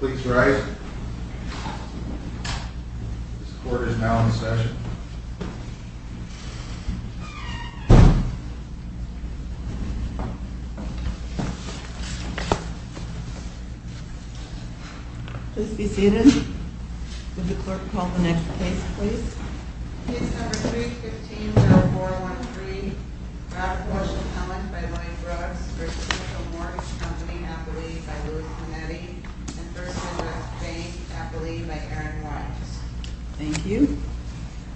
Please rise, this court is now in session. Please be seated. Would the clerk call the next case, please? Case number 315-0413, Robert Walsh Appellant by Lloyd Brooks v. Central Mortgage Co. Appellee by Louie Clemente v. Thurston West Bank Appellee by Erin Watts. Thank you.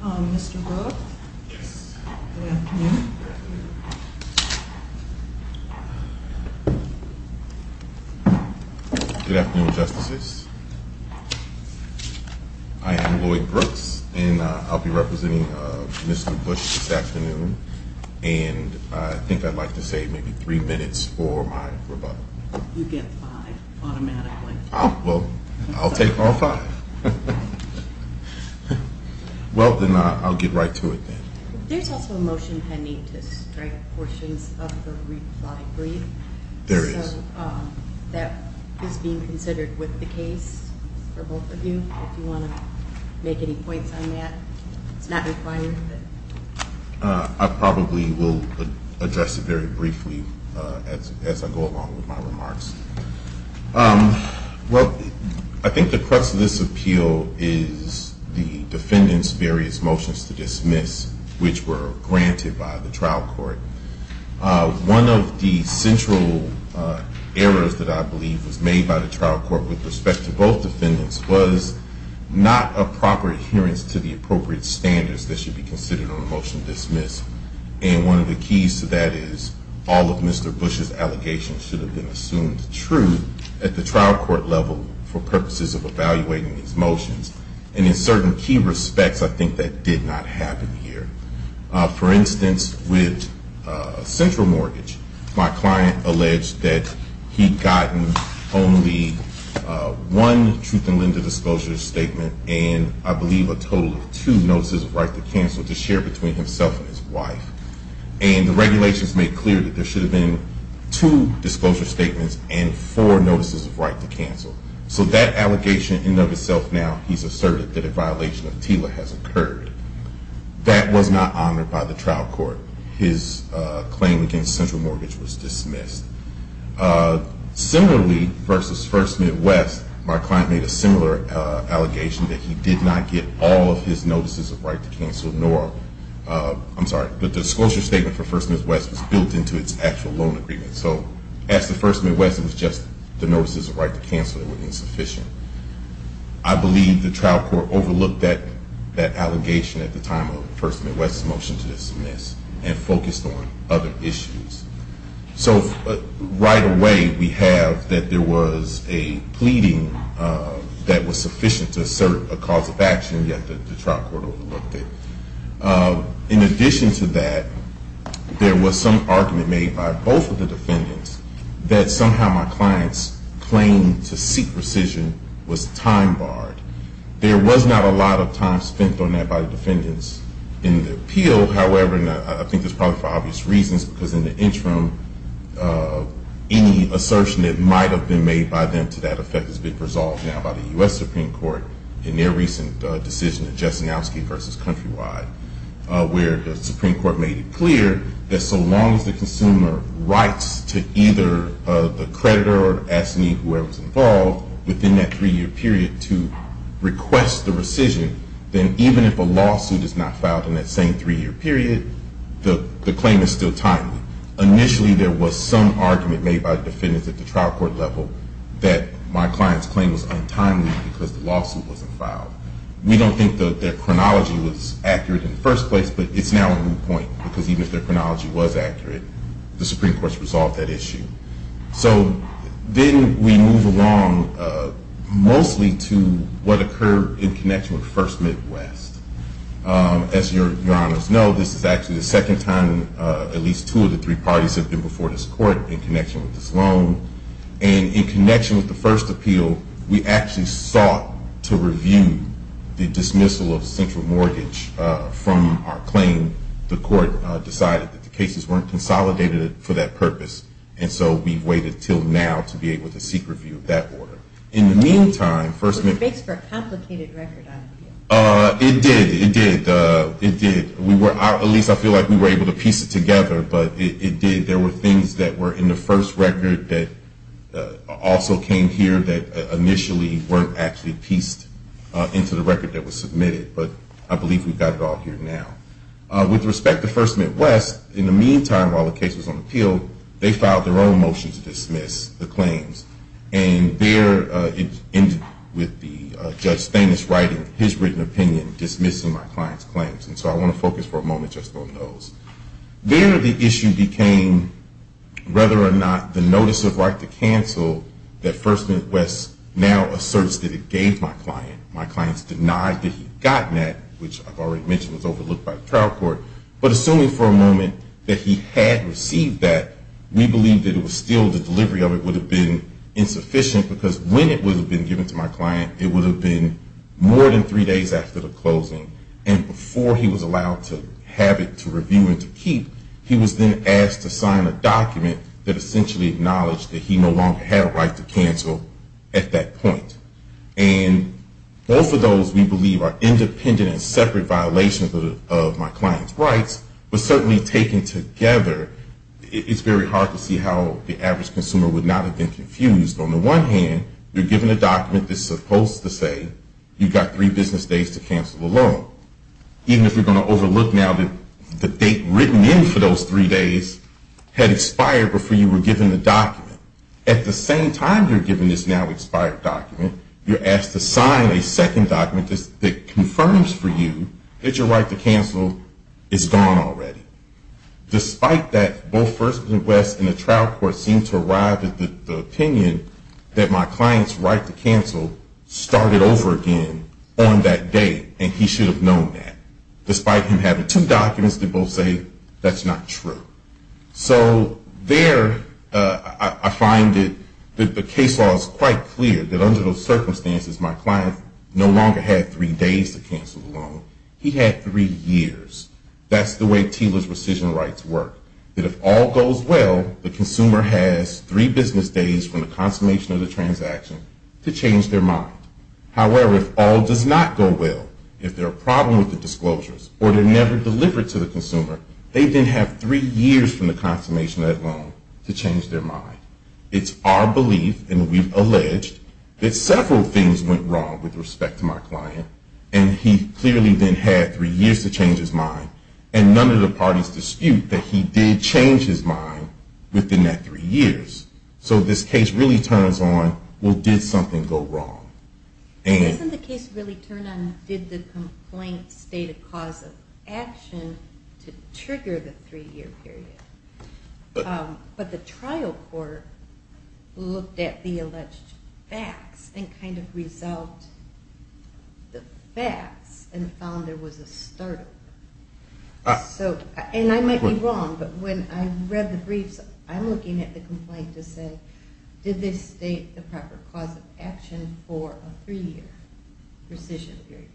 Mr. Brooks? Yes. Good afternoon. Good afternoon. Good afternoon, Justices. I am Lloyd Brooks, and I'll be representing Mr. Bush this afternoon. And I think I'd like to say maybe three minutes for my rebuttal. You get five automatically. Well, I'll take all five. Well, then I'll get right to it then. There's also a motion pending to strike portions of the reply brief. There is. So that is being considered with the case for both of you, if you want to make any points on that. It's not required. I probably will address it very briefly as I go along with my remarks. Well, I think the crux of this appeal is the defendant's various motions to dismiss, which were granted by the trial court. One of the central errors that I believe was made by the trial court with respect to both defendants was not a proper adherence to the appropriate standards that should be considered on a motion to dismiss. And one of the keys to that is all of Mr. Bush's allegations should have been assumed true at the trial court level for purposes of evaluating these motions. And in certain key respects, I think that did not happen here. For instance, with central mortgage, my client alleged that he'd gotten only one truth and lender disclosure statement and I believe a total of two notices of right to cancel to share between himself and his wife. And the regulations made clear that there should have been two disclosure statements and four notices of right to cancel. So that allegation in and of itself now, he's asserted that a violation of TILA has occurred. That was not honored by the trial court. His claim against central mortgage was dismissed. Similarly, versus First Midwest, my client made a similar allegation that he did not get all of his notices of right to cancel, nor, I'm sorry, the disclosure statement for First Midwest was built into its actual loan agreement. So as to First Midwest, it was just the notices of right to cancel that were insufficient. I believe the trial court overlooked that allegation at the time of First Midwest's motion to dismiss and focused on other issues. So right away, we have that there was a pleading that was sufficient to assert a cause of action, yet the trial court overlooked it. In addition to that, there was some argument made by both of the defendants that somehow my client's claim to seek rescission was time barred. There was not a lot of time spent on that by the defendants in the appeal. However, and I think this is probably for obvious reasons, because in the interim, any assertion that might have been made by them to that effect has been resolved now by the U.S. Supreme Court in their recent decision of Jesenowski v. Countrywide, where the Supreme Court made it clear that so long as the consumer writes to either the creditor or asking whoever is involved within that three-year period to request the rescission, then even if a lawsuit is not filed in that same three-year period, the claim is still timely. Initially, there was some argument made by defendants at the trial court level that my client's claim was untimely because the lawsuit wasn't filed. We don't think their chronology was accurate in the first place, but it's now a moot point, because even if their chronology was accurate, the Supreme Court has resolved that issue. So then we move along mostly to what occurred in connection with First Midwest. As your honors know, this is actually the second time at least two of the three parties have been before this court in connection with this loan. And in connection with the first appeal, we actually sought to review the dismissal of central mortgage from our claim. The court decided that the cases weren't consolidated for that purpose, and so we've waited until now to be able to seek review of that order. Was there space for a complicated record on appeal? It did, it did. At least I feel like we were able to piece it together, but it did. There were things that were in the first record that also came here that initially weren't actually pieced into the record that was submitted, but I believe we've got it all here now. With respect to First Midwest, in the meantime, while the case was on appeal, they filed their own motion to dismiss the claims. And there it ended with Judge Staines writing his written opinion dismissing my client's claims. And so I want to focus for a moment just on those. There the issue became whether or not the notice of right to cancel that First Midwest now asserts that it gave my client. My client's denied that he'd gotten that, which I've already mentioned was overlooked by the trial court. But assuming for a moment that he had received that, we believe that it was still the delivery of it would have been insufficient, because when it would have been given to my client, it would have been more than three days after the closing. And before he was allowed to have it to review and to keep, he was then asked to sign a document that essentially acknowledged that he no longer had a right to cancel at that point. And both of those, we believe, are independent and separate violations of my client's rights, but certainly taken together, it's very hard to see how the average consumer would not have been confused. On the one hand, you're given a document that's supposed to say you've got three business days to cancel the loan. Even if you're going to overlook now that the date written in for those three days had expired before you were given the document. At the same time you're given this now expired document, you're asked to sign a second document that confirms for you that your right to cancel is gone already. Despite that, both First and West and the trial court seem to arrive at the opinion that my client's right to cancel started over again on that date, and he should have known that. Despite him having two documents, they both say that's not true. So there I find that the case law is quite clear that under those circumstances my client no longer had three days to cancel the loan. He had three years. That's the way TILA's rescission rights work. That if all goes well, the consumer has three business days from the consummation of the transaction to change their mind. However, if all does not go well, if there are problems with the disclosures, or they're never delivered to the consumer, they then have three years from the consummation of that loan to change their mind. It's our belief, and we've alleged, that several things went wrong with respect to my client, and he clearly then had three years to change his mind, and none of the parties dispute that he did change his mind within that three years. So this case really turns on, well, did something go wrong? Doesn't the case really turn on did the complaint state a cause of action to trigger the three-year period? But the trial court looked at the alleged facts and kind of resolved the facts and found there was a startle. And I might be wrong, but when I read the briefs, I'm looking at the complaint to say, did this state the proper cause of action for a three-year rescission period?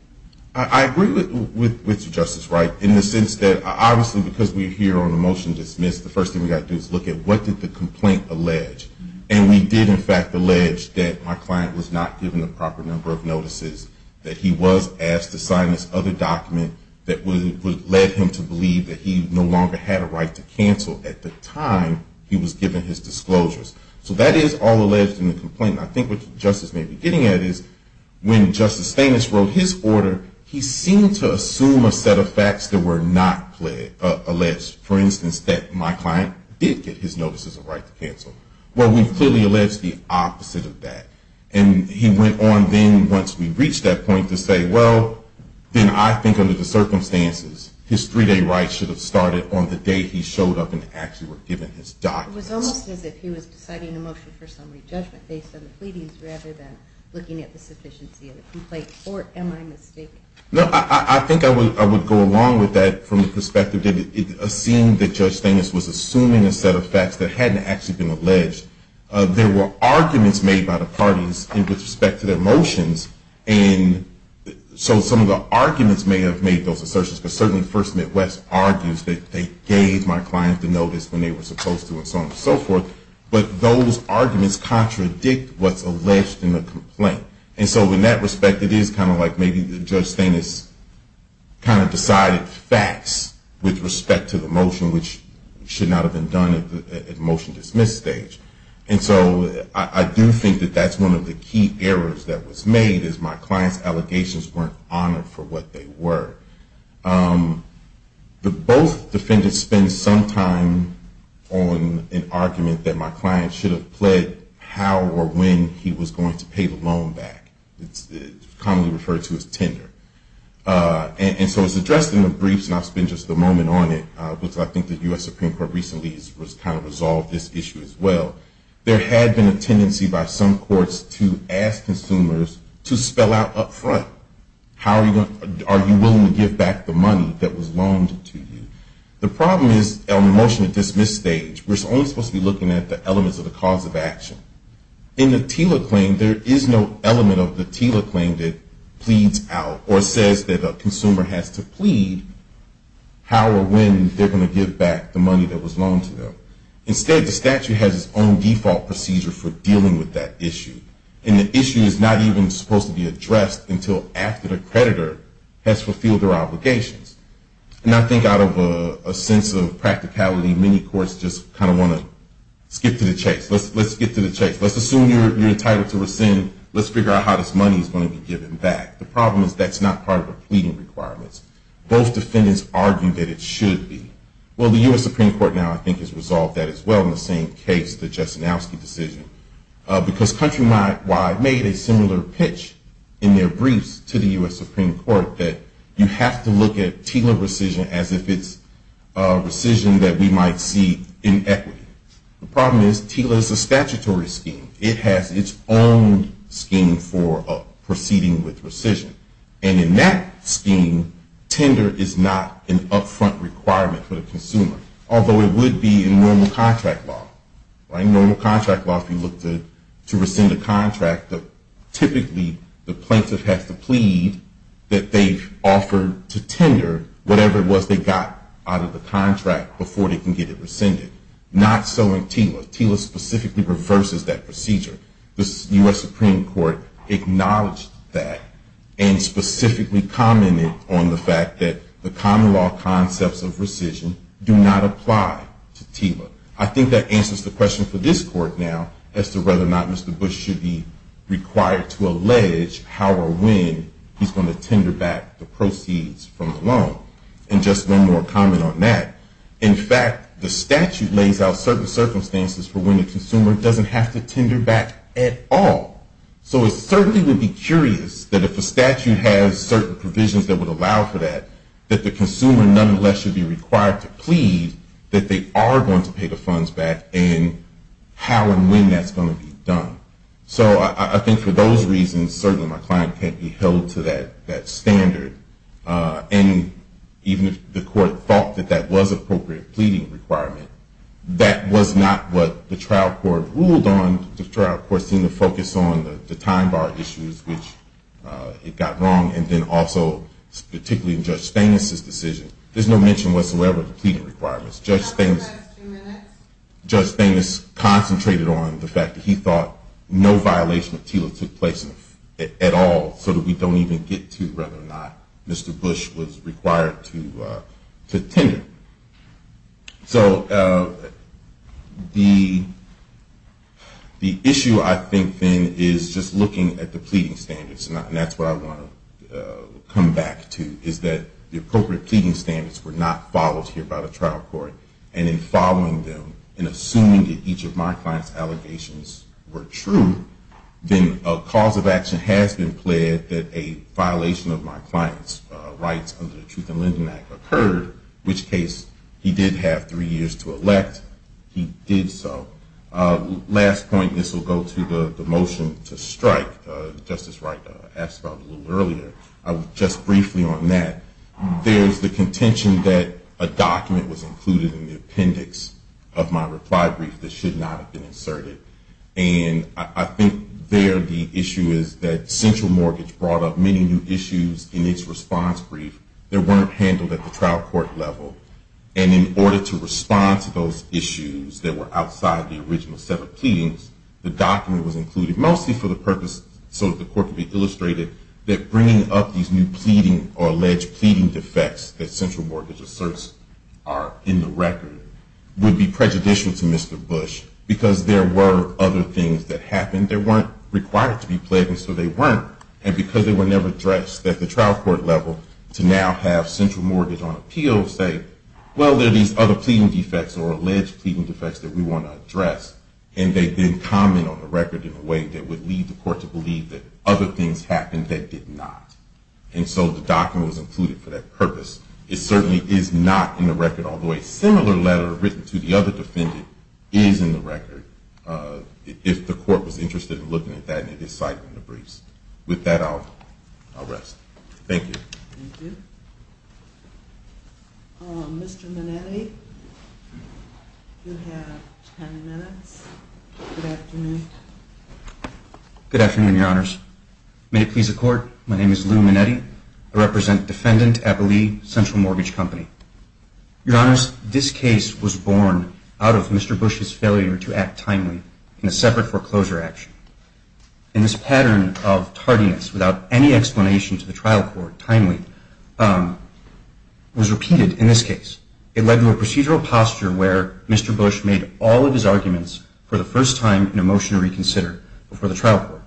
I agree with you, Justice Wright, in the sense that, obviously, because we're here on a motion to dismiss, the first thing we've got to do is look at what did the complaint allege. And we did, in fact, allege that my client was not given the proper number of notices, that he was asked to sign this other document that would have led him to believe that he no longer had a right to cancel at the time he was given his disclosures. So that is all alleged in the complaint. And I think what Justice may be getting at is when Justice Stamets wrote his order, he seemed to assume a set of facts that were not alleged. For instance, that my client did get his notices of right to cancel. Well, we've clearly alleged the opposite of that. And he went on then, once we reached that point, to say, well, then I think under the circumstances, his three-day right should have started on the day he showed up and actually were given his documents. It was almost as if he was deciding a motion for summary judgment based on the pleadings rather than looking at the sufficiency of the complaint. Or am I mistaken? No, I think I would go along with that from the perspective that it seemed that Judge Stamets was assuming a set of facts that hadn't actually been alleged. There were arguments made by the parties with respect to their motions. And so some of the arguments may have made those assertions. But certainly First Midwest argues that they gave my client the notice when they were supposed to and so on and so forth. But those arguments contradict what's alleged in the complaint. And so in that respect, it is kind of like maybe Judge Stamets kind of decided facts with respect to the motion, which should not have been done at the motion dismiss stage. And so I do think that that's one of the key errors that was made is my client's allegations weren't honored for what they were. Both defendants spend some time on an argument that my client should have pled how or when he was going to pay the loan back. And so it's addressed in the briefs, and I'll spend just a moment on it, which I think the U.S. Supreme Court recently has kind of resolved this issue as well. There had been a tendency by some courts to ask consumers to spell out up front, are you willing to give back the money that was loaned to you? The problem is on the motion dismiss stage, we're only supposed to be looking at the elements of the cause of action. In the TILA claim, there is no element of the TILA claim that pleads out, or says that a consumer has to plead how or when they're going to give back the money that was loaned to them. Instead, the statute has its own default procedure for dealing with that issue. And the issue is not even supposed to be addressed until after the creditor has fulfilled their obligations. And I think out of a sense of practicality, many courts just kind of want to skip to the chase. Let's get to the chase. Let's assume you're entitled to rescind. Let's figure out how this money is going to be given back. The problem is that's not part of the pleading requirements. Both defendants argue that it should be. Well, the U.S. Supreme Court now I think has resolved that as well in the same case, the Jastrzynowski decision, because Countrywide made a similar pitch in their briefs to the U.S. Supreme Court, that you have to look at TILA rescission as if it's rescission that we might see in equity. The problem is TILA is a statutory scheme. It has its own scheme for proceeding with rescission. And in that scheme, tender is not an upfront requirement for the consumer, although it would be in normal contract law. In normal contract law, if you look to rescind a contract, typically the plaintiff has to plead that they've offered to tender whatever it was they got out of the contract before they can get it rescinded. Not so in TILA. TILA specifically reverses that procedure. The U.S. Supreme Court acknowledged that and specifically commented on the fact that the common law concepts of rescission do not apply to TILA. I think that answers the question for this Court now as to whether or not Mr. Bush should be required to allege how or when he's going to tender back the proceeds from the loan. And just one more comment on that. In fact, the statute lays out certain circumstances for when the consumer doesn't have to tender back at all. So it certainly would be curious that if a statute has certain provisions that would allow for that, that the consumer nonetheless should be required to plead that they are going to pay the funds back and how and when that's going to be done. So I think for those reasons, certainly my client can't be held to that standard. And even if the Court thought that that was an appropriate pleading requirement, that was not what the trial court ruled on. The trial court seemed to focus on the time bar issues, which it got wrong, and then also particularly in Judge Stamos' decision. There's no mention whatsoever of pleading requirements. Judge Stamos concentrated on the fact that he thought no violation of TILA took place at all, so that we don't even get to whether or not Mr. Bush was required to tender. So the issue I think then is just looking at the pleading standards, and that's what I want to come back to, is that the appropriate pleading standards were not followed here by the trial court. And in following them and assuming that each of my client's allegations were true, then a cause of action has been pled that a violation of my client's rights under the Truth in Lending Act occurred, which case he did have three years to elect, he did so. Last point, this will go to the motion to strike, Justice Wright asked about a little earlier. Just briefly on that, there's the contention that a document was included in the appendix of my reply brief that should not have been inserted. And I think there the issue is that Central Mortgage brought up many new issues in its response brief that weren't handled at the trial court level. And in order to respond to those issues that were outside the original set of pleadings, the document was included mostly for the purpose so that the court could be illustrated that bringing up these new pleading or alleged pleading defects that Central Mortgage asserts are in the record would be prejudicial to Mr. Bush, because there were other things that happened. They weren't required to be pled, and so they weren't. And because they were never addressed at the trial court level, to now have Central Mortgage on appeal say, well, there are these other pleading defects or alleged pleading defects that we want to address, and they didn't comment on the record in a way that would lead the court to believe that other things happened that did not. And so the document was included for that purpose. It certainly is not in the record, although a similar letter written to the other defendant is in the record, if the court was interested in looking at that and it is cited in the briefs. With that, I'll rest. Thank you. Thank you. Mr. Minetti, you have 10 minutes. Good afternoon. Good afternoon, Your Honors. May it please the Court, my name is Lou Minetti. I represent Defendant Eberle Central Mortgage Company. Your Honors, this case was born out of Mr. Bush's failure to act timely in a separate foreclosure action. And this pattern of tardiness, without any explanation to the trial court, timely, was repeated in this case. It led to a procedural posture where Mr. Bush made all of his arguments for the first time in a motion to reconsider before the trial court.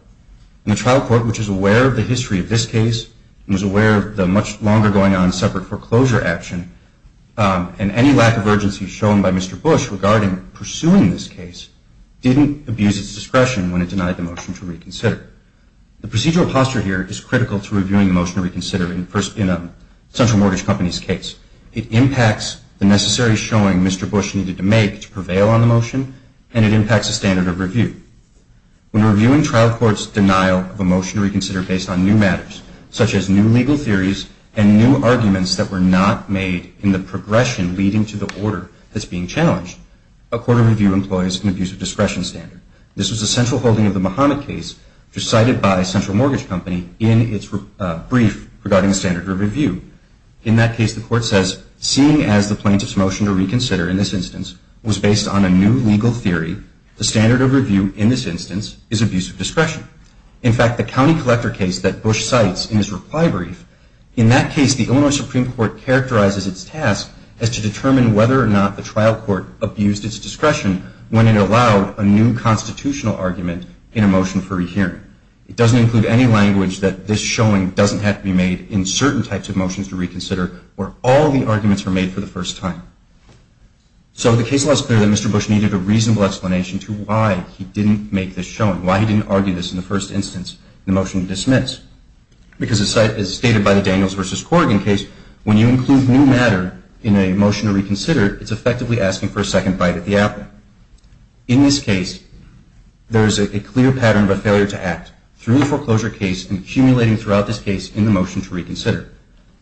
And the trial court, which is aware of the history of this case, and is aware of the much longer going on separate foreclosure action, and any lack of urgency shown by Mr. Bush regarding pursuing this case, didn't abuse its discretion when it denied the motion to reconsider. The procedural posture here is critical to reviewing a motion to reconsider in a Central Mortgage Company's case. It impacts the necessary showing Mr. Bush needed to make to prevail on the motion and it impacts the standard of review. When reviewing trial court's denial of a motion to reconsider based on new matters, such as new legal theories and new arguments that were not made in the progression leading to the order that's being challenged, a court of review employs an abuse of discretion standard. This was a central holding of the Mahomet case decided by Central Mortgage Company in its brief regarding standard of review. In that case, the court says, seeing as the plaintiff's motion to reconsider in this instance was based on a new legal theory, the standard of review in this instance is abuse of discretion. In fact, the county collector case that Bush cites in his reply brief, in that case, the Illinois Supreme Court characterizes its task as to determine whether or not the trial court abused its discretion when it allowed a new constitutional argument in a motion for rehearing. It doesn't include any language that this showing doesn't have to be made in certain types of motions to reconsider where all the arguments were made for the first time. So the case was clear that Mr. Bush needed a reasonable explanation to why he didn't make this showing, why he didn't argue this in the first instance in the motion to dismiss. Because as stated by the Daniels v. Corrigan case, when you include new matter in a motion to reconsider, it's effectively asking for a second bite at the apple. In this case, there is a clear pattern of failure to act through the foreclosure case and accumulating throughout this case in the motion to reconsider.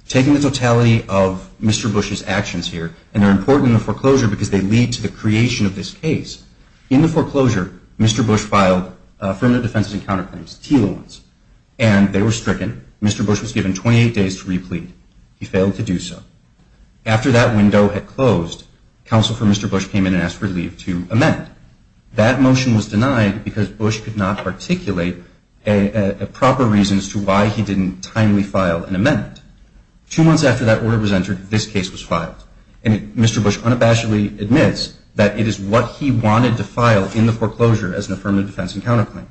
Taking the totality of Mr. Bush's actions here, and they're important in the foreclosure because they lead to the creation of this case. In the foreclosure, Mr. Bush filed affirmative defenses and counterclaims, TILA ones. And they were stricken. Mr. Bush was given 28 days to replete. He failed to do so. After that window had closed, counsel for Mr. Bush came in and asked for leave to amend. That motion was denied because Bush could not articulate a proper reason as to why he didn't timely file an amendment. Two months after that order was entered, this case was filed. And Mr. Bush unabashedly admits that it is what he wanted to file in the foreclosure as an affirmative defense and counterclaim.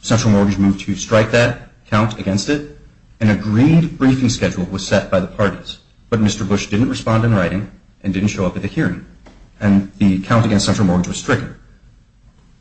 Central Mortgage moved to strike that count against it. An agreed briefing schedule was set by the parties. But Mr. Bush didn't respond in writing and didn't show up at the hearing. And the count against Central Mortgage was stricken.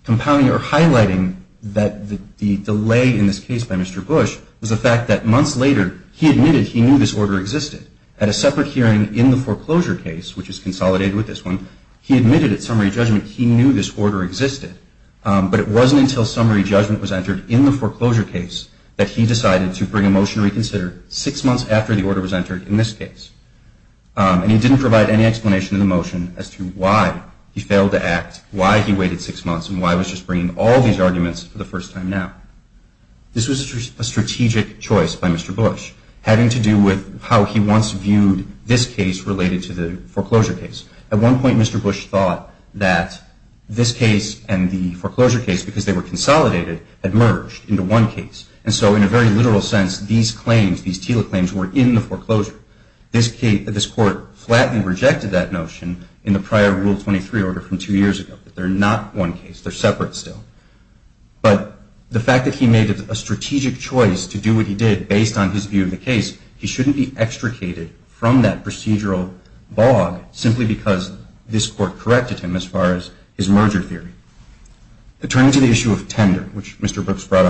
Highlighting that the delay in this case by Mr. Bush was the fact that months later, he admitted he knew this order existed. At a separate hearing in the foreclosure case, which is consolidated with this one, he admitted at summary judgment he knew this order existed. But it wasn't until summary judgment was entered in the foreclosure case that he decided to bring a motion to reconsider six months after the order was entered in this case. And he didn't provide any explanation in the motion as to why he failed to act, why he waited six months, and why he was just bringing all these arguments for the first time now. This was a strategic choice by Mr. Bush having to do with how he once viewed this case related to the foreclosure case. At one point, Mr. Bush thought that this case and the foreclosure case, because they were consolidated, had merged into one case. And so in a very literal sense, these claims, these TILA claims, were in the foreclosure. This court flatly rejected that notion in the prior Rule 23 order from two years ago, that they're not one case, they're separate still. But the fact that he made a strategic choice to do what he did based on his view of the case, he shouldn't be extricated from that procedural bog simply because this court corrected him as far as his merger theory. Turning to the issue of tender, which Mr. Brooks brought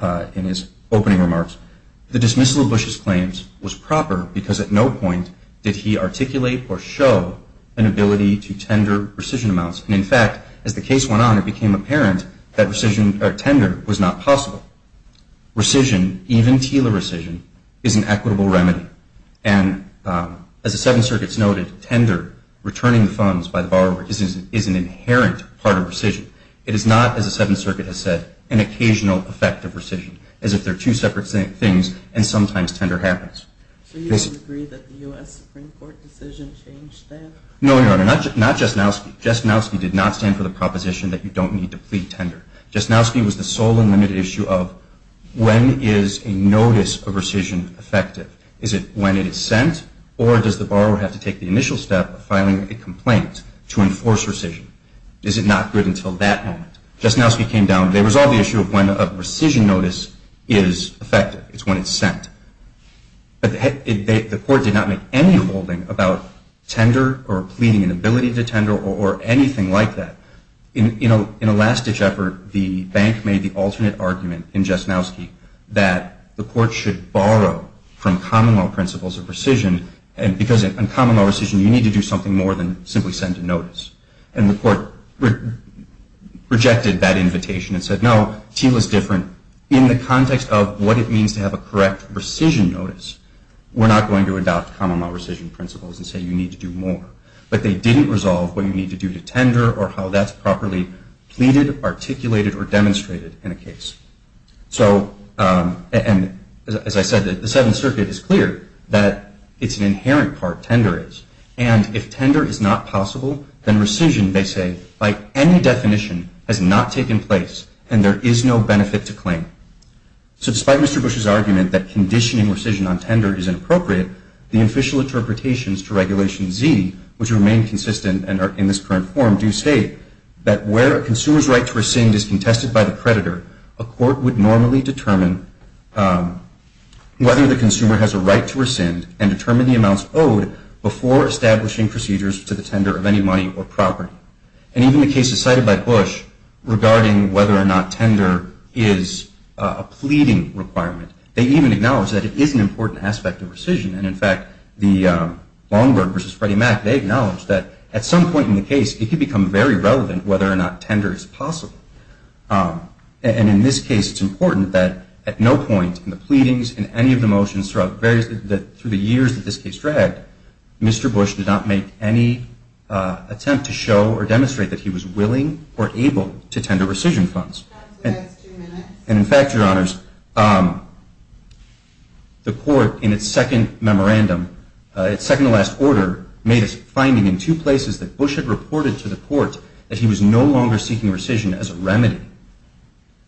up in his opening remarks, the dismissal of Bush's claims was proper because at no point did he articulate or show an ability to tender rescission amounts. And in fact, as the case went on, it became apparent that rescission or tender was not possible. Rescission, even TILA rescission, is an equitable remedy. And as the Seventh Circuit's noted, tender, returning the funds by the borrower, is an inherent part of rescission. It is not, as the Seventh Circuit has said, an occasional effect of rescission, as if they're two separate things and sometimes tender happens. So you disagree that the U.S. Supreme Court decision changed that? No, Your Honor, not Jesnowski. Jesnowski did not stand for the proposition that you don't need to plead tender. Jesnowski was the sole and limited issue of when is a notice of rescission effective? Is it when it is sent, or does the borrower have to take the initial step of filing a complaint to enforce rescission? Is it not good until that moment? Jesnowski came down. They resolved the issue of when a rescission notice is effective. It's when it's sent. But the court did not make any holding about tender or pleading an ability to tender or anything like that. In a last-ditch effort, the bank made the alternate argument in Jesnowski that the court should borrow from common law principles of rescission, and because in common law rescission you need to do something more than simply send a notice. And the court rejected that invitation and said, no, TEAL is different. In the context of what it means to have a correct rescission notice, we're not going to adopt common law rescission principles and say you need to do more. But they didn't resolve what you need to do to tender or how that's properly pleaded, articulated, or demonstrated in a case. And as I said, the Seventh Circuit is clear that it's an inherent part, tender is. And if tender is not possible, then rescission, they say, by any definition, has not taken place and there is no benefit to claim. So despite Mr. Bush's argument that conditioning rescission on tender is inappropriate, the official interpretations to Regulation Z, which remain consistent and are in this current form, do state that where a consumer's right to rescind is contested by the creditor, a court would normally determine whether the consumer has a right to rescind and determine the amounts owed before establishing procedures to the tender of any money or property. And even the cases cited by Bush regarding whether or not tender is a pleading requirement, they even acknowledge that it is an important aspect of rescission. And in fact, Longberg v. Freddie Mac, they acknowledge that at some point in the case, it could become very relevant whether or not tender is possible. And in this case, it's important that at no point in the pleadings, in any of the motions, through the years that this case dragged, Mr. Bush did not make any attempt to show or demonstrate that he was willing or able to tender rescission funds. And in fact, Your Honors, the court in its second memorandum, its second to last order, made a finding in two places that Bush had reported to the court that he was no longer seeking rescission as a remedy.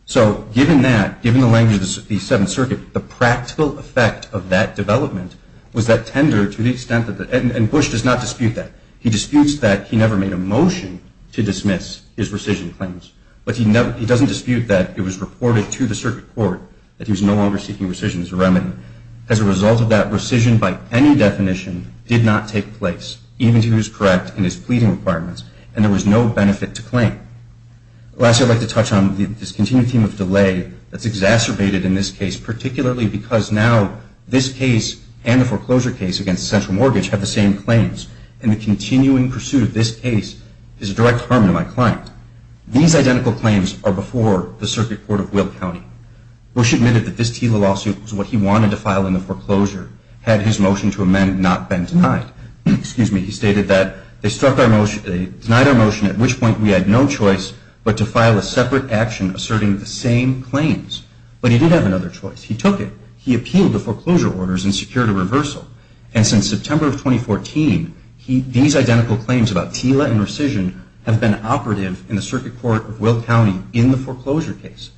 So given that, given the language of the Seventh Circuit, the practical effect of that development was that tender, to the extent that the, and Bush does not dispute that. He disputes that he never made a motion to dismiss his rescission claims. But he doesn't dispute that it was reported to the circuit court that he was no longer seeking rescission as a remedy. As a result of that, rescission by any definition did not take place, even if he was correct in his pleading requirements, and there was no benefit to claim. Lastly, I'd like to touch on this continued theme of delay that's exacerbated in this case, particularly because now this case and the foreclosure case against the central mortgage have the same claims, and the continuing pursuit of this case is a direct harm to my client. These identical claims are before the circuit court of Will County. Bush admitted that this TILA lawsuit was what he wanted to file in the foreclosure, had his motion to amend not been denied. He stated that they denied our motion, at which point we had no choice but to file a separate action asserting the same claims. But he did have another choice. He took it. He appealed the foreclosure orders and secured a reversal. And since September of 2014, these identical claims about TILA and rescission have been operative in the circuit court of Will County in the foreclosure case.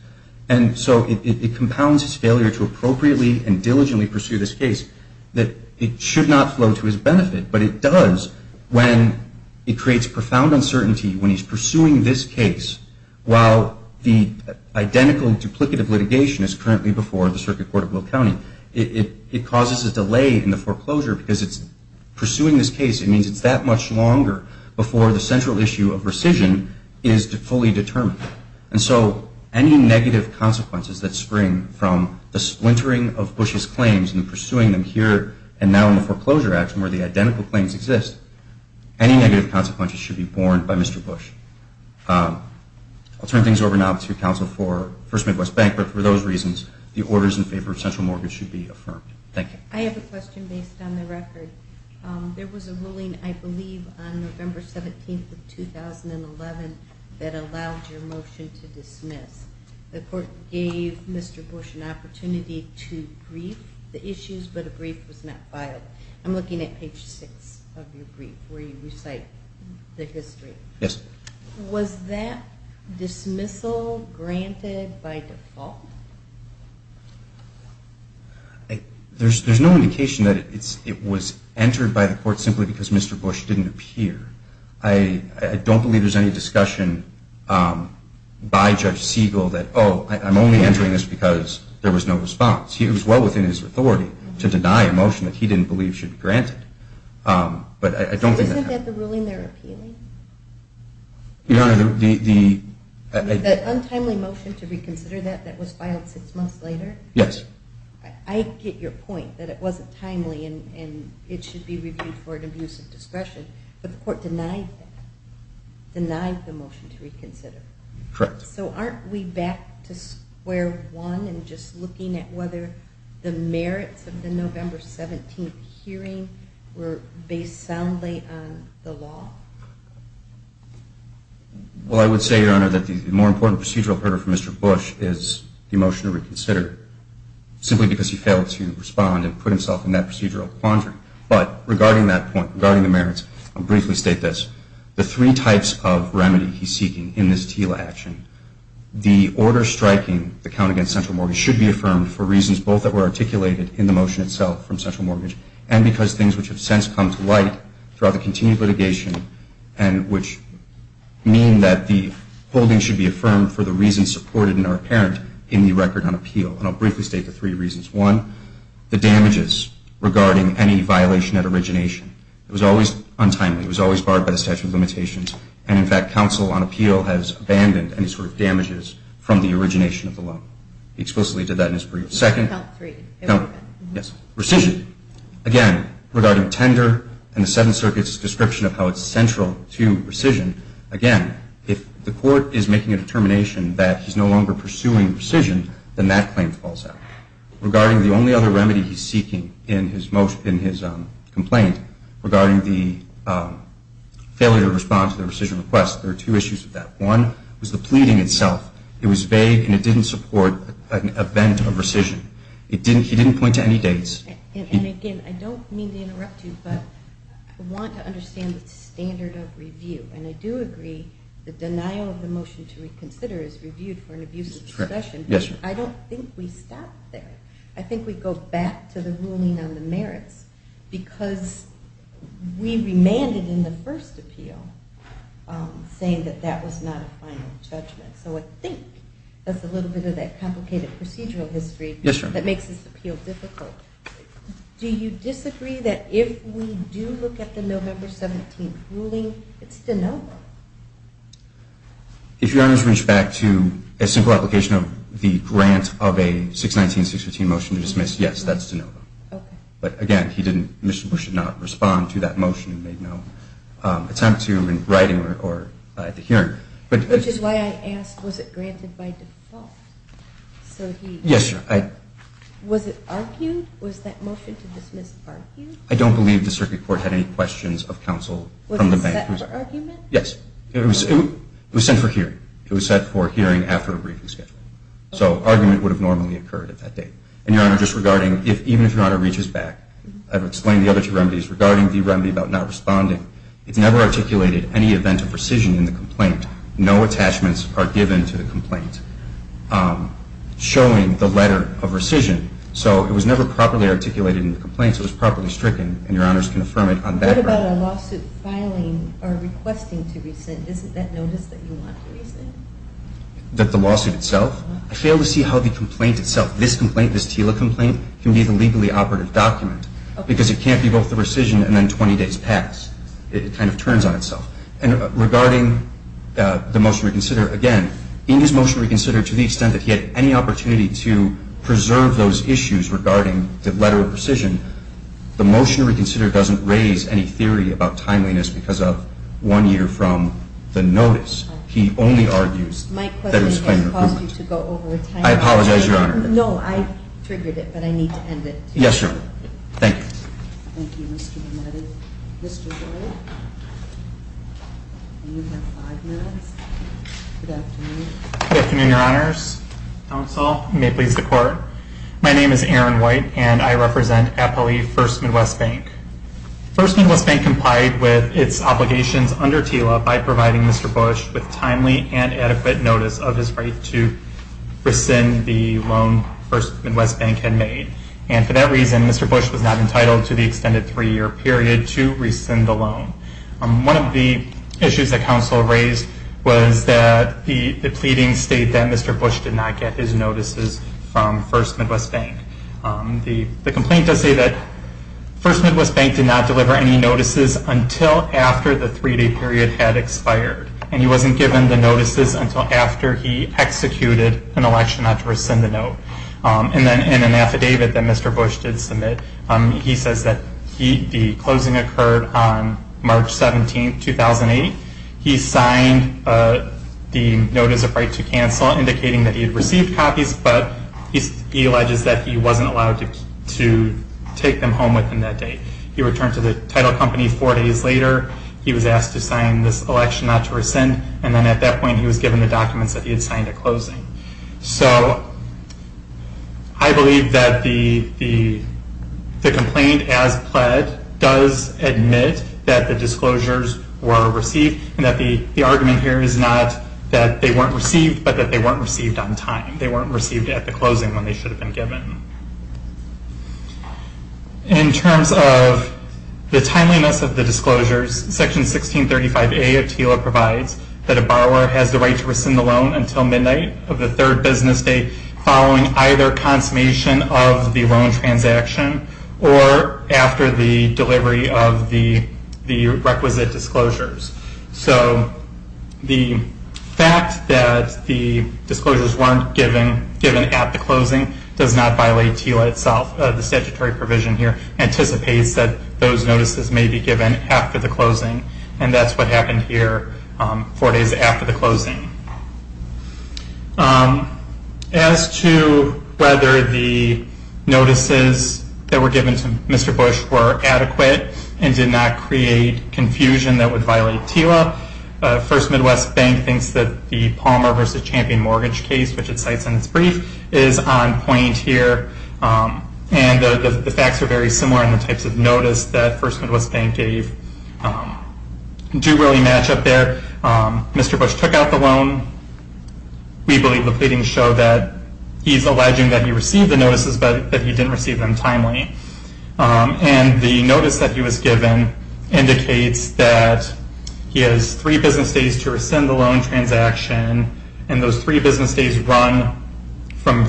And so it compounds his failure to appropriately and diligently pursue this case that it should not flow to his benefit, but it does when it creates profound uncertainty when he's pursuing this case while the identical and duplicative litigation is currently before the circuit court of Will County. It causes a delay in the foreclosure because it's pursuing this case. It means it's that much longer before the central issue of rescission is fully determined. And so any negative consequences that spring from the splintering of Bush's claims and pursuing them here and now in the foreclosure action where the identical claims exist, any negative consequences should be borne by Mr. Bush. I'll turn things over now to counsel for Smith West Bank, but for those reasons, the orders in favor of central mortgage should be affirmed. Thank you. I have a question based on the record. There was a ruling, I believe, on November 17th of 2011 that allowed your motion to dismiss. The court gave Mr. Bush an opportunity to brief the issues, but a brief was not filed. I'm looking at page 6 of your brief where you recite the history. Yes. Was that dismissal granted by default? There's no indication that it was entered by the court simply because Mr. Bush didn't appear. I don't believe there's any discussion by Judge Siegel that, oh, I'm only entering this because there was no response. It was well within his authority to deny a motion that he didn't believe should be granted. But I don't think that happened. So isn't that the ruling they're appealing? Your Honor, the ‑‑ The untimely motion to reconsider that that was filed six months later? Yes. I get your point that it wasn't timely and it should be reviewed for an abuse of discretion, but the court denied that, denied the motion to reconsider. Correct. So aren't we back to square one and just looking at whether the merits of the November 17th hearing were based soundly on the law? Well, I would say, Your Honor, that the more important procedural hurdle for Mr. Bush is the motion to reconsider simply because he failed to respond and put himself in that procedural quandary. But regarding that point, regarding the merits, I'll briefly state this. The three types of remedy he's seeking in this TILA action, the order striking the count against central mortgage should be affirmed for reasons both that were articulated in the motion itself from central mortgage and because things which have since come to light throughout the continued litigation and which mean that the holding should be affirmed for the reasons supported and are apparent in the record on appeal. And I'll briefly state the three reasons. One, the damages regarding any violation at origination. It was always untimely. It was always barred by the statute of limitations. And, in fact, counsel on appeal has abandoned any sort of damages from the origination of the law. He explicitly did that in his brief. Second? Count three. Yes. Recision. Again, regarding tender and the Seventh Circuit's description of how it's central to rescission, again, if the court is making a determination that he's no longer pursuing rescission, then that claim falls out. Regarding the only other remedy he's seeking in his complaint, regarding the failure to respond to the rescission request, there are two issues with that. One was the pleading itself. It was vague and it didn't support an event of rescission. He didn't point to any dates. And, again, I don't mean to interrupt you, but I want to understand the standard of review. And I do agree the denial of the motion to reconsider is reviewed for an abusive session. I don't think we stop there. I think we go back to the ruling on the merits because we remanded in the first appeal saying that that was not a final judgment. So I think that's a little bit of that complicated procedural history that makes this appeal difficult. Do you disagree that if we do look at the November 17th ruling, it's de novo? If Your Honors reach back to a simple application of the grant of a 619-615 motion to dismiss, yes, that's de novo. Okay. But, again, Mr. Bush did not respond to that motion. He made no attempt to in writing or at the hearing. Which is why I asked, was it granted by default? Yes, Your Honor. Was it argued? Was that motion to dismiss argued? I don't believe the circuit court had any questions of counsel from the bank. Was it set for argument? Yes. It was set for hearing. It was set for hearing after a briefing schedule. So argument would have normally occurred at that date. And, Your Honor, just regarding, even if Your Honor reaches back, I've explained the other two remedies. Regarding the remedy about not responding, it never articulated any event of rescission in the complaint. No attachments are given to the complaint showing the letter of rescission. So it was never properly articulated in the complaint. It was properly stricken. And Your Honors can affirm it on that ground. What about a lawsuit filing or requesting to rescind? Isn't that notice that you want to rescind? That the lawsuit itself? I fail to see how the complaint itself, this complaint, this TILA complaint, can be the legally operative document. Because it can't be both the rescission and then 20 days pass. It kind of turns on itself. And regarding the motion to reconsider, again, in his motion to reconsider, to the extent that he had any opportunity to preserve those issues regarding the letter of rescission, the motion to reconsider doesn't raise any theory about timeliness because of one year from the notice. He only argues that it was timely. My question has caused you to go over a time limit. I apologize, Your Honor. No, I triggered it, but I need to end it. Yes, Your Honor. Thank you. Thank you, Mr. DeMattei. Mr. Doyle, you have five minutes. Good afternoon. Good afternoon, Your Honors. Counsel, may it please the Court. My name is Aaron White, and I represent Appali First Midwest Bank. First Midwest Bank complied with its obligations under TILA by providing Mr. Bush with timely and adequate notice of his right to rescind the loan First Midwest Bank had made. And for that reason, Mr. Bush was not entitled to the extended three-year period to rescind the loan. One of the issues that counsel raised was that the pleadings state that Mr. Bush did not get his notices from First Midwest Bank. The complaint does say that First Midwest Bank did not deliver any notices until after the three-day period had expired, and he wasn't given the notices until after he executed an election not to rescind the note. And then in an affidavit that Mr. Bush did submit, he says that the closing occurred on March 17, 2008. He signed the notice of right to cancel, indicating that he had received copies, but he alleges that he wasn't allowed to take them home within that date. He returned to the title company four days later. He was asked to sign this election not to rescind, and then at that point he was given the documents that he had signed a closing. So I believe that the complaint as pled does admit that the disclosures were received and that the argument here is not that they weren't received, but that they weren't received on time. They weren't received at the closing when they should have been given. In terms of the timeliness of the disclosures, Section 1635A of TILA provides that a borrower has the right to rescind the loan until midnight of the third business day following either consummation of the loan transaction or after the delivery of the requisite disclosures. So the fact that the disclosures weren't given at the closing does not violate TILA itself. The statutory provision here anticipates that those notices may be given after the closing, and that's what happened here four days after the closing. As to whether the notices that were given to Mr. Bush were adequate and did not create confusion that would violate TILA, First Midwest Bank thinks that the Palmer v. Champion mortgage case, which it cites in its brief, is on point here. And the facts are very similar in the types of notice that First Midwest Bank gave. They do really match up there. Mr. Bush took out the loan. We believe the pleadings show that he's alleging that he received the notices, but that he didn't receive them timely. And the notice that he was given indicates that he has three business days to rescind the loan transaction, and those three business days run from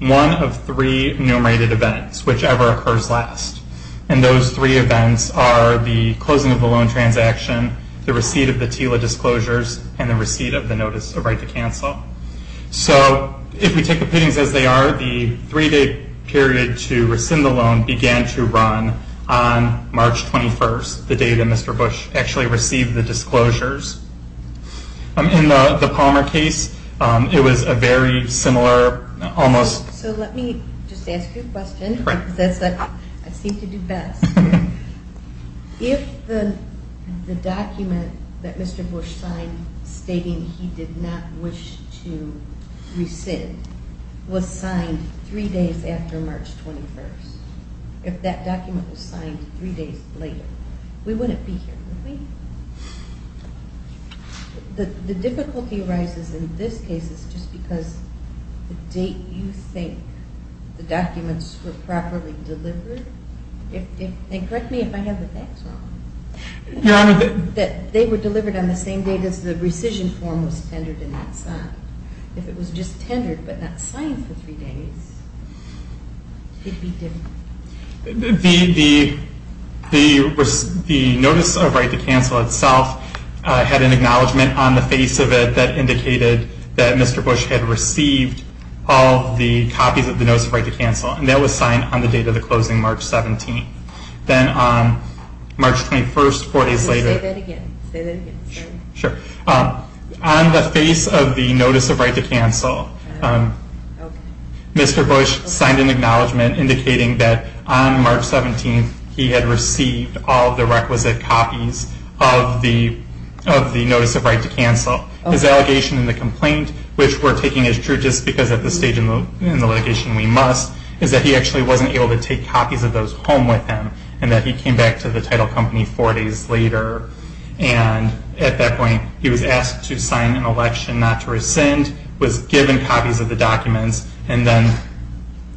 one of three enumerated events, whichever occurs last. And those three events are the closing of the loan transaction, the receipt of the TILA disclosures, and the receipt of the notice of right to cancel. So if we take the pleadings as they are, the three-day period to rescind the loan began to run on March 21st, the day that Mr. Bush actually received the disclosures. In the Palmer case, it was a very similar, almost- So let me just ask you a question, because that's what I seem to do best. If the document that Mr. Bush signed stating he did not wish to rescind was signed three days after March 21st, if that document was signed three days later, we wouldn't be here, would we? The difficulty arises in this case is just because the date you think the documents were properly delivered, and correct me if I have the facts wrong, that they were delivered on the same date as the rescission form was tendered and not signed. If it was just tendered but not signed for three days, it would be different. The notice of right to cancel itself had an acknowledgment on the face of it that indicated that Mr. Bush had received all the copies of the notice of right to cancel, and that was signed on the date of the closing, March 17th. Then on March 21st, four days later- Say that again. Say that again. On the face of the notice of right to cancel, Mr. Bush signed an acknowledgment indicating that on March 17th he had received all the requisite copies of the notice of right to cancel. His allegation in the complaint, which we're taking as true just because at this stage in the litigation we must, is that he actually wasn't able to take copies of those home with him, and that he came back to the title company four days later. At that point, he was asked to sign an election not to rescind, was given copies of the documents, and then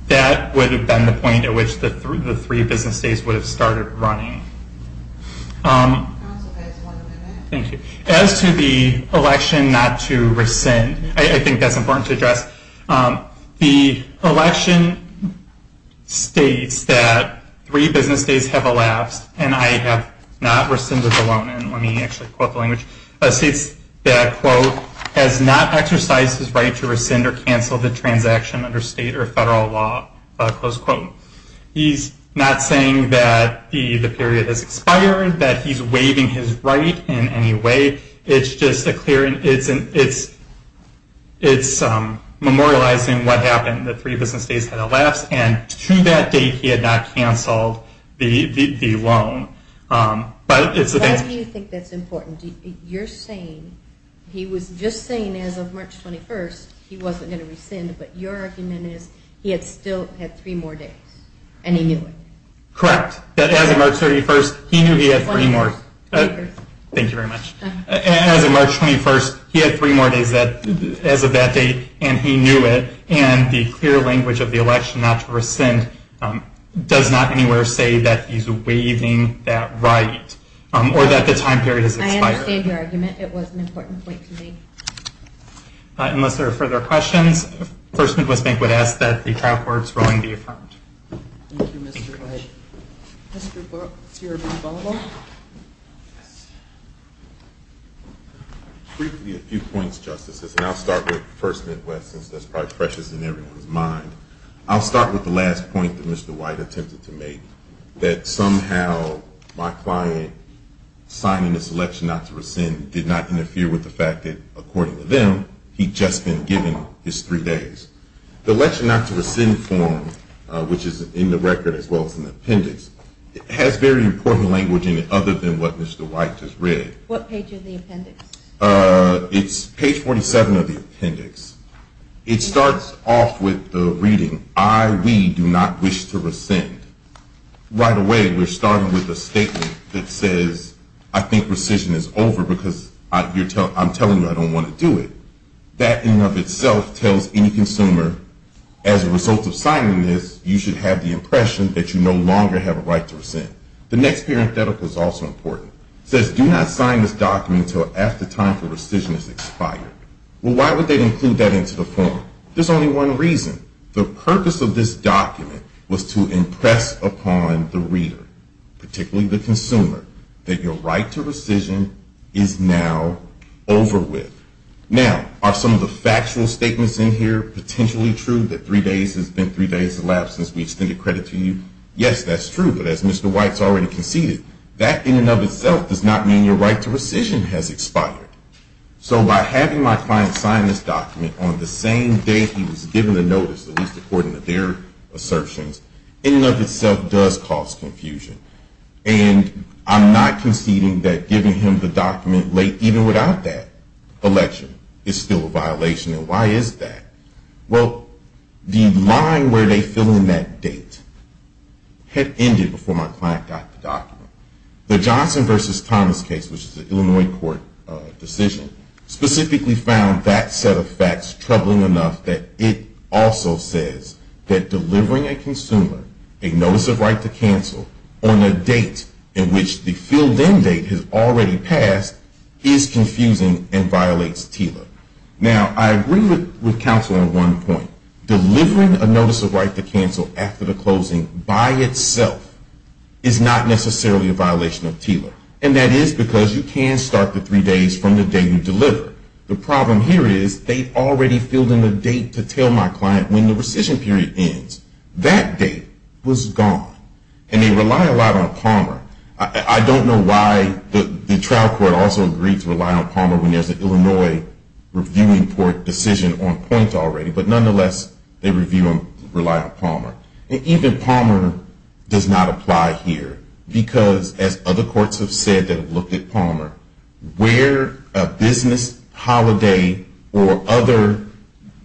that would have been the point at which the three business days would have started running. As to the election not to rescind, I think that's important to address. The election states that three business days have elapsed, and I have not rescinded the loan. Let me actually quote the language. It states that, quote, has not exercised his right to rescind or cancel the transaction under state or federal law. Close quote. He's not saying that the period has expired, that he's waiving his right in any way. It's just a clear, it's memorializing what happened, that three business days had elapsed, and to that date he had not canceled the loan. Why do you think that's important? You're saying, he was just saying as of March 21st he wasn't going to rescind, but your argument is he had still had three more days, and he knew it. Correct. That as of March 31st, he knew he had three more. Thank you very much. As of March 21st, he had three more days as of that date, and he knew it, and the clear language of the election not to rescind does not anywhere say that he's waiving that right, or that the time period has expired. I understand your argument. It was an important point to make. Unless there are further questions, First Midwest Bank would ask that the trial court's ruling be affirmed. Thank you, Mr. White. Mr. Burwell. Briefly a few points, Justices, and I'll start with First Midwest since that's probably precious in everyone's mind. I'll start with the last point that Mr. White attempted to make, that somehow my client signing this election not to rescind did not interfere with the fact that, according to them, he'd just been given his three days. The election not to rescind form, which is in the record as well as in the appendix, has very important language in it other than what Mr. White just read. What page of the appendix? It's page 47 of the appendix. It starts off with the reading, I, we, do not wish to rescind. Right away, we're starting with a statement that says, I think rescission is over because I'm telling you I don't want to do it. That in and of itself tells any consumer, as a result of signing this, you should have the impression that you no longer have a right to rescind. The next parenthetical is also important. It says, do not sign this document until after time for rescission has expired. Well, why would they include that into the form? There's only one reason. The purpose of this document was to impress upon the reader, particularly the consumer, that your right to rescission is now over with. Now, are some of the factual statements in here potentially true, that three days has been three days elapsed since we extended credit to you? Yes, that's true, but as Mr. White has already conceded, that in and of itself does not mean your right to rescission has expired. So by having my client sign this document on the same day he was given the notice, at least according to their assertions, in and of itself does cause confusion. And I'm not conceding that giving him the document late, even without that, election is still a violation. And why is that? Well, the line where they fill in that date had ended before my client got the document. The Johnson v. Thomas case, which is an Illinois court decision, specifically found that set of facts troubling enough that it also says that delivering a consumer a notice of right to cancel on a date in which the filled-in date has already passed is confusing and violates TILA. Now, I agree with counsel on one point. Delivering a notice of right to cancel after the closing by itself is not necessarily a violation of TILA. And that is because you can start the three days from the day you deliver. The problem here is they've already filled in the date to tell my client when the rescission period ends. That date was gone. And they rely a lot on Palmer. I don't know why the trial court also agreed to rely on Palmer when there's an Illinois reviewing decision on point already. But nonetheless, they rely on Palmer. And even Palmer does not apply here because, as other courts have said that have looked at Palmer, where a business holiday or other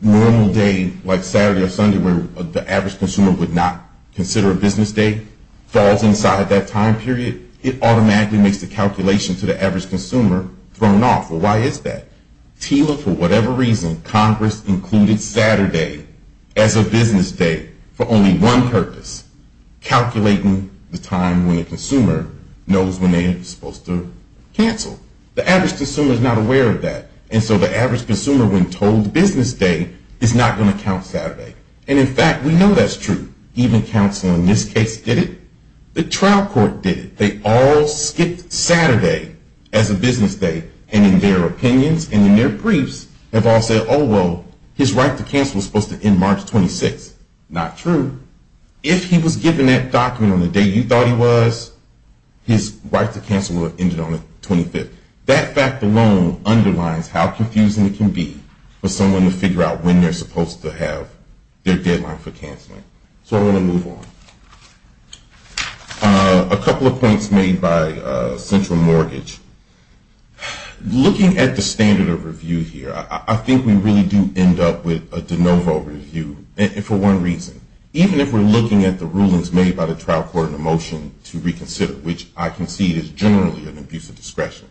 normal day, like Saturday or Sunday, where the average consumer would not consider a business day, falls inside that time period, it automatically makes the calculation to the average consumer thrown off. Well, why is that? TILA, for whatever reason, Congress included Saturday as a business day for only one purpose, calculating the time when the consumer knows when they are supposed to cancel. The average consumer is not aware of that. And so the average consumer, when told business day, is not going to count Saturday. And, in fact, we know that's true. Even counsel in this case did it. The trial court did it. They all skipped Saturday as a business day. And in their opinions and in their briefs, they've all said, oh, well, his right to cancel is supposed to end March 26th. Not true. If he was given that document on the day you thought he was, his right to cancel would have ended on the 25th. That fact alone underlines how confusing it can be for someone to figure out when they're supposed to have their deadline for canceling. So I'm going to move on. A couple of points made by central mortgage. Looking at the standard of review here, I think we really do end up with a de novo review. And for one reason. Even if we're looking at the rulings made by the trial court in the motion to reconsider, which I concede is generally an abuse of discretion.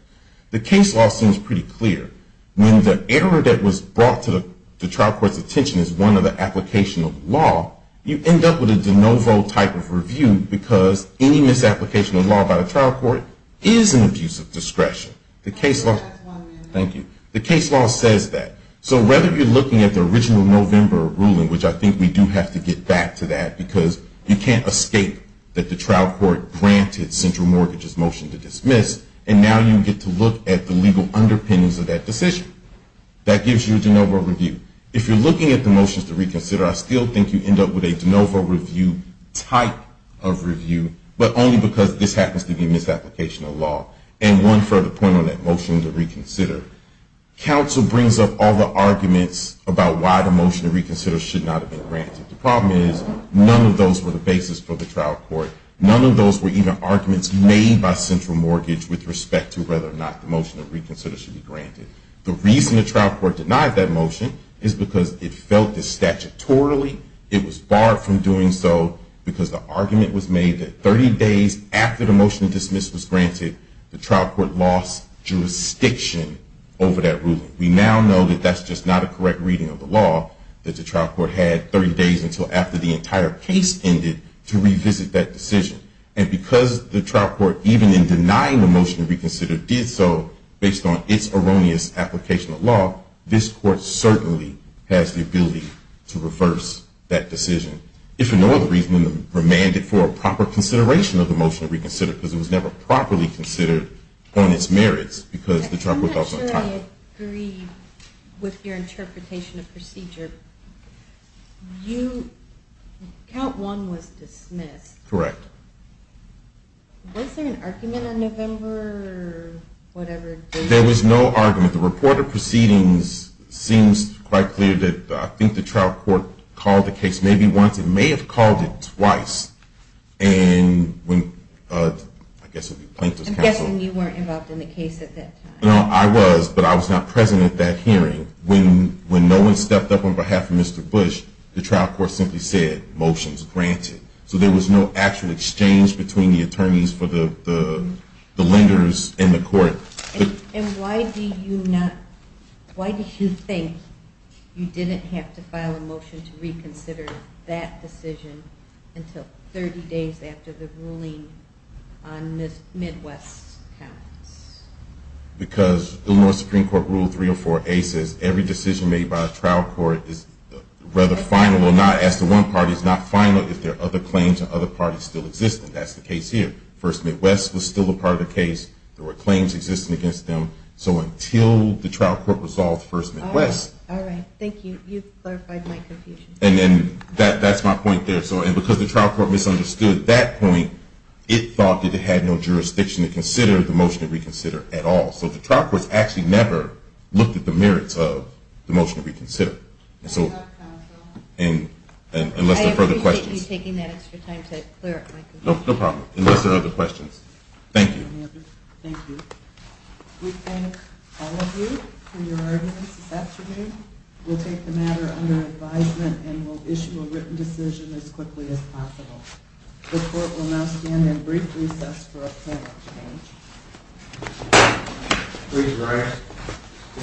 The case law seems pretty clear. When the error that was brought to the trial court's attention is one of the application of law, you end up with a de novo type of review because any misapplication of law by the trial court is an abuse of discretion. The case law says that. So whether you're looking at the original November ruling, which I think we do have to get back to that, because you can't escape that the trial court granted central mortgage's motion to dismiss, and now you get to look at the legal underpinnings of that decision. That gives you a de novo review. If you're looking at the motions to reconsider, I still think you end up with a de novo review type of review, but only because this happens to be misapplication of law. And one further point on that motion to reconsider. Counsel brings up all the arguments about why the motion to reconsider should not have been granted. The problem is none of those were the basis for the trial court. None of those were even arguments made by central mortgage with respect to whether or not the motion to reconsider should be granted. The reason the trial court denied that motion is because it felt that statutorily it was barred from doing so because the argument was made that 30 days after the motion to dismiss was granted, the trial court lost jurisdiction over that ruling. We now know that that's just not a correct reading of the law, that the trial court had 30 days until after the entire case ended to revisit that decision. And because the trial court, even in denying the motion to reconsider, did so based on its erroneous application of law, this court certainly has the ability to reverse that decision. If for no other reason than to remand it for a proper consideration of the motion to reconsider because it was never properly considered on its merits because the trial court was also entitled to it. I'm not sure I agree with your interpretation of procedure. Count one was dismissed. Correct. Was there an argument in November or whatever? There was no argument. The report of proceedings seems quite clear that I think the trial court called the case maybe once. It may have called it twice. I'm guessing you weren't involved in the case at that time. No, I was, but I was not present at that hearing. When no one stepped up on behalf of Mr. Bush, the trial court simply said, motions granted. So there was no actual exchange between the attorneys for the lenders and the court. And why do you think you didn't have to file a motion to reconsider that decision until 30 days after the ruling on this Midwest case? Because Illinois Supreme Court Rule 304A says every decision made by a trial court is rather final or not, as to one party, is not final if there are other claims of other parties still existing. That's the case here. First Midwest was still a part of the case. There were claims existing against them. So until the trial court resolved First Midwest. All right. Thank you. You've clarified my confusion. And that's my point there. And because the trial court misunderstood that point, it thought that it had no jurisdiction to consider the motion to reconsider at all. So the trial courts actually never looked at the merits of the motion to reconsider. I appreciate you taking that extra time to clear up my confusion. No problem. Unless there are other questions. Thank you. Thank you. We thank all of you for your arguments this afternoon. We'll take the matter under advisement and we'll issue a written decision as quickly as possible. The court will now stand in brief recess for a plan of change. Please rise. The court stands in recess.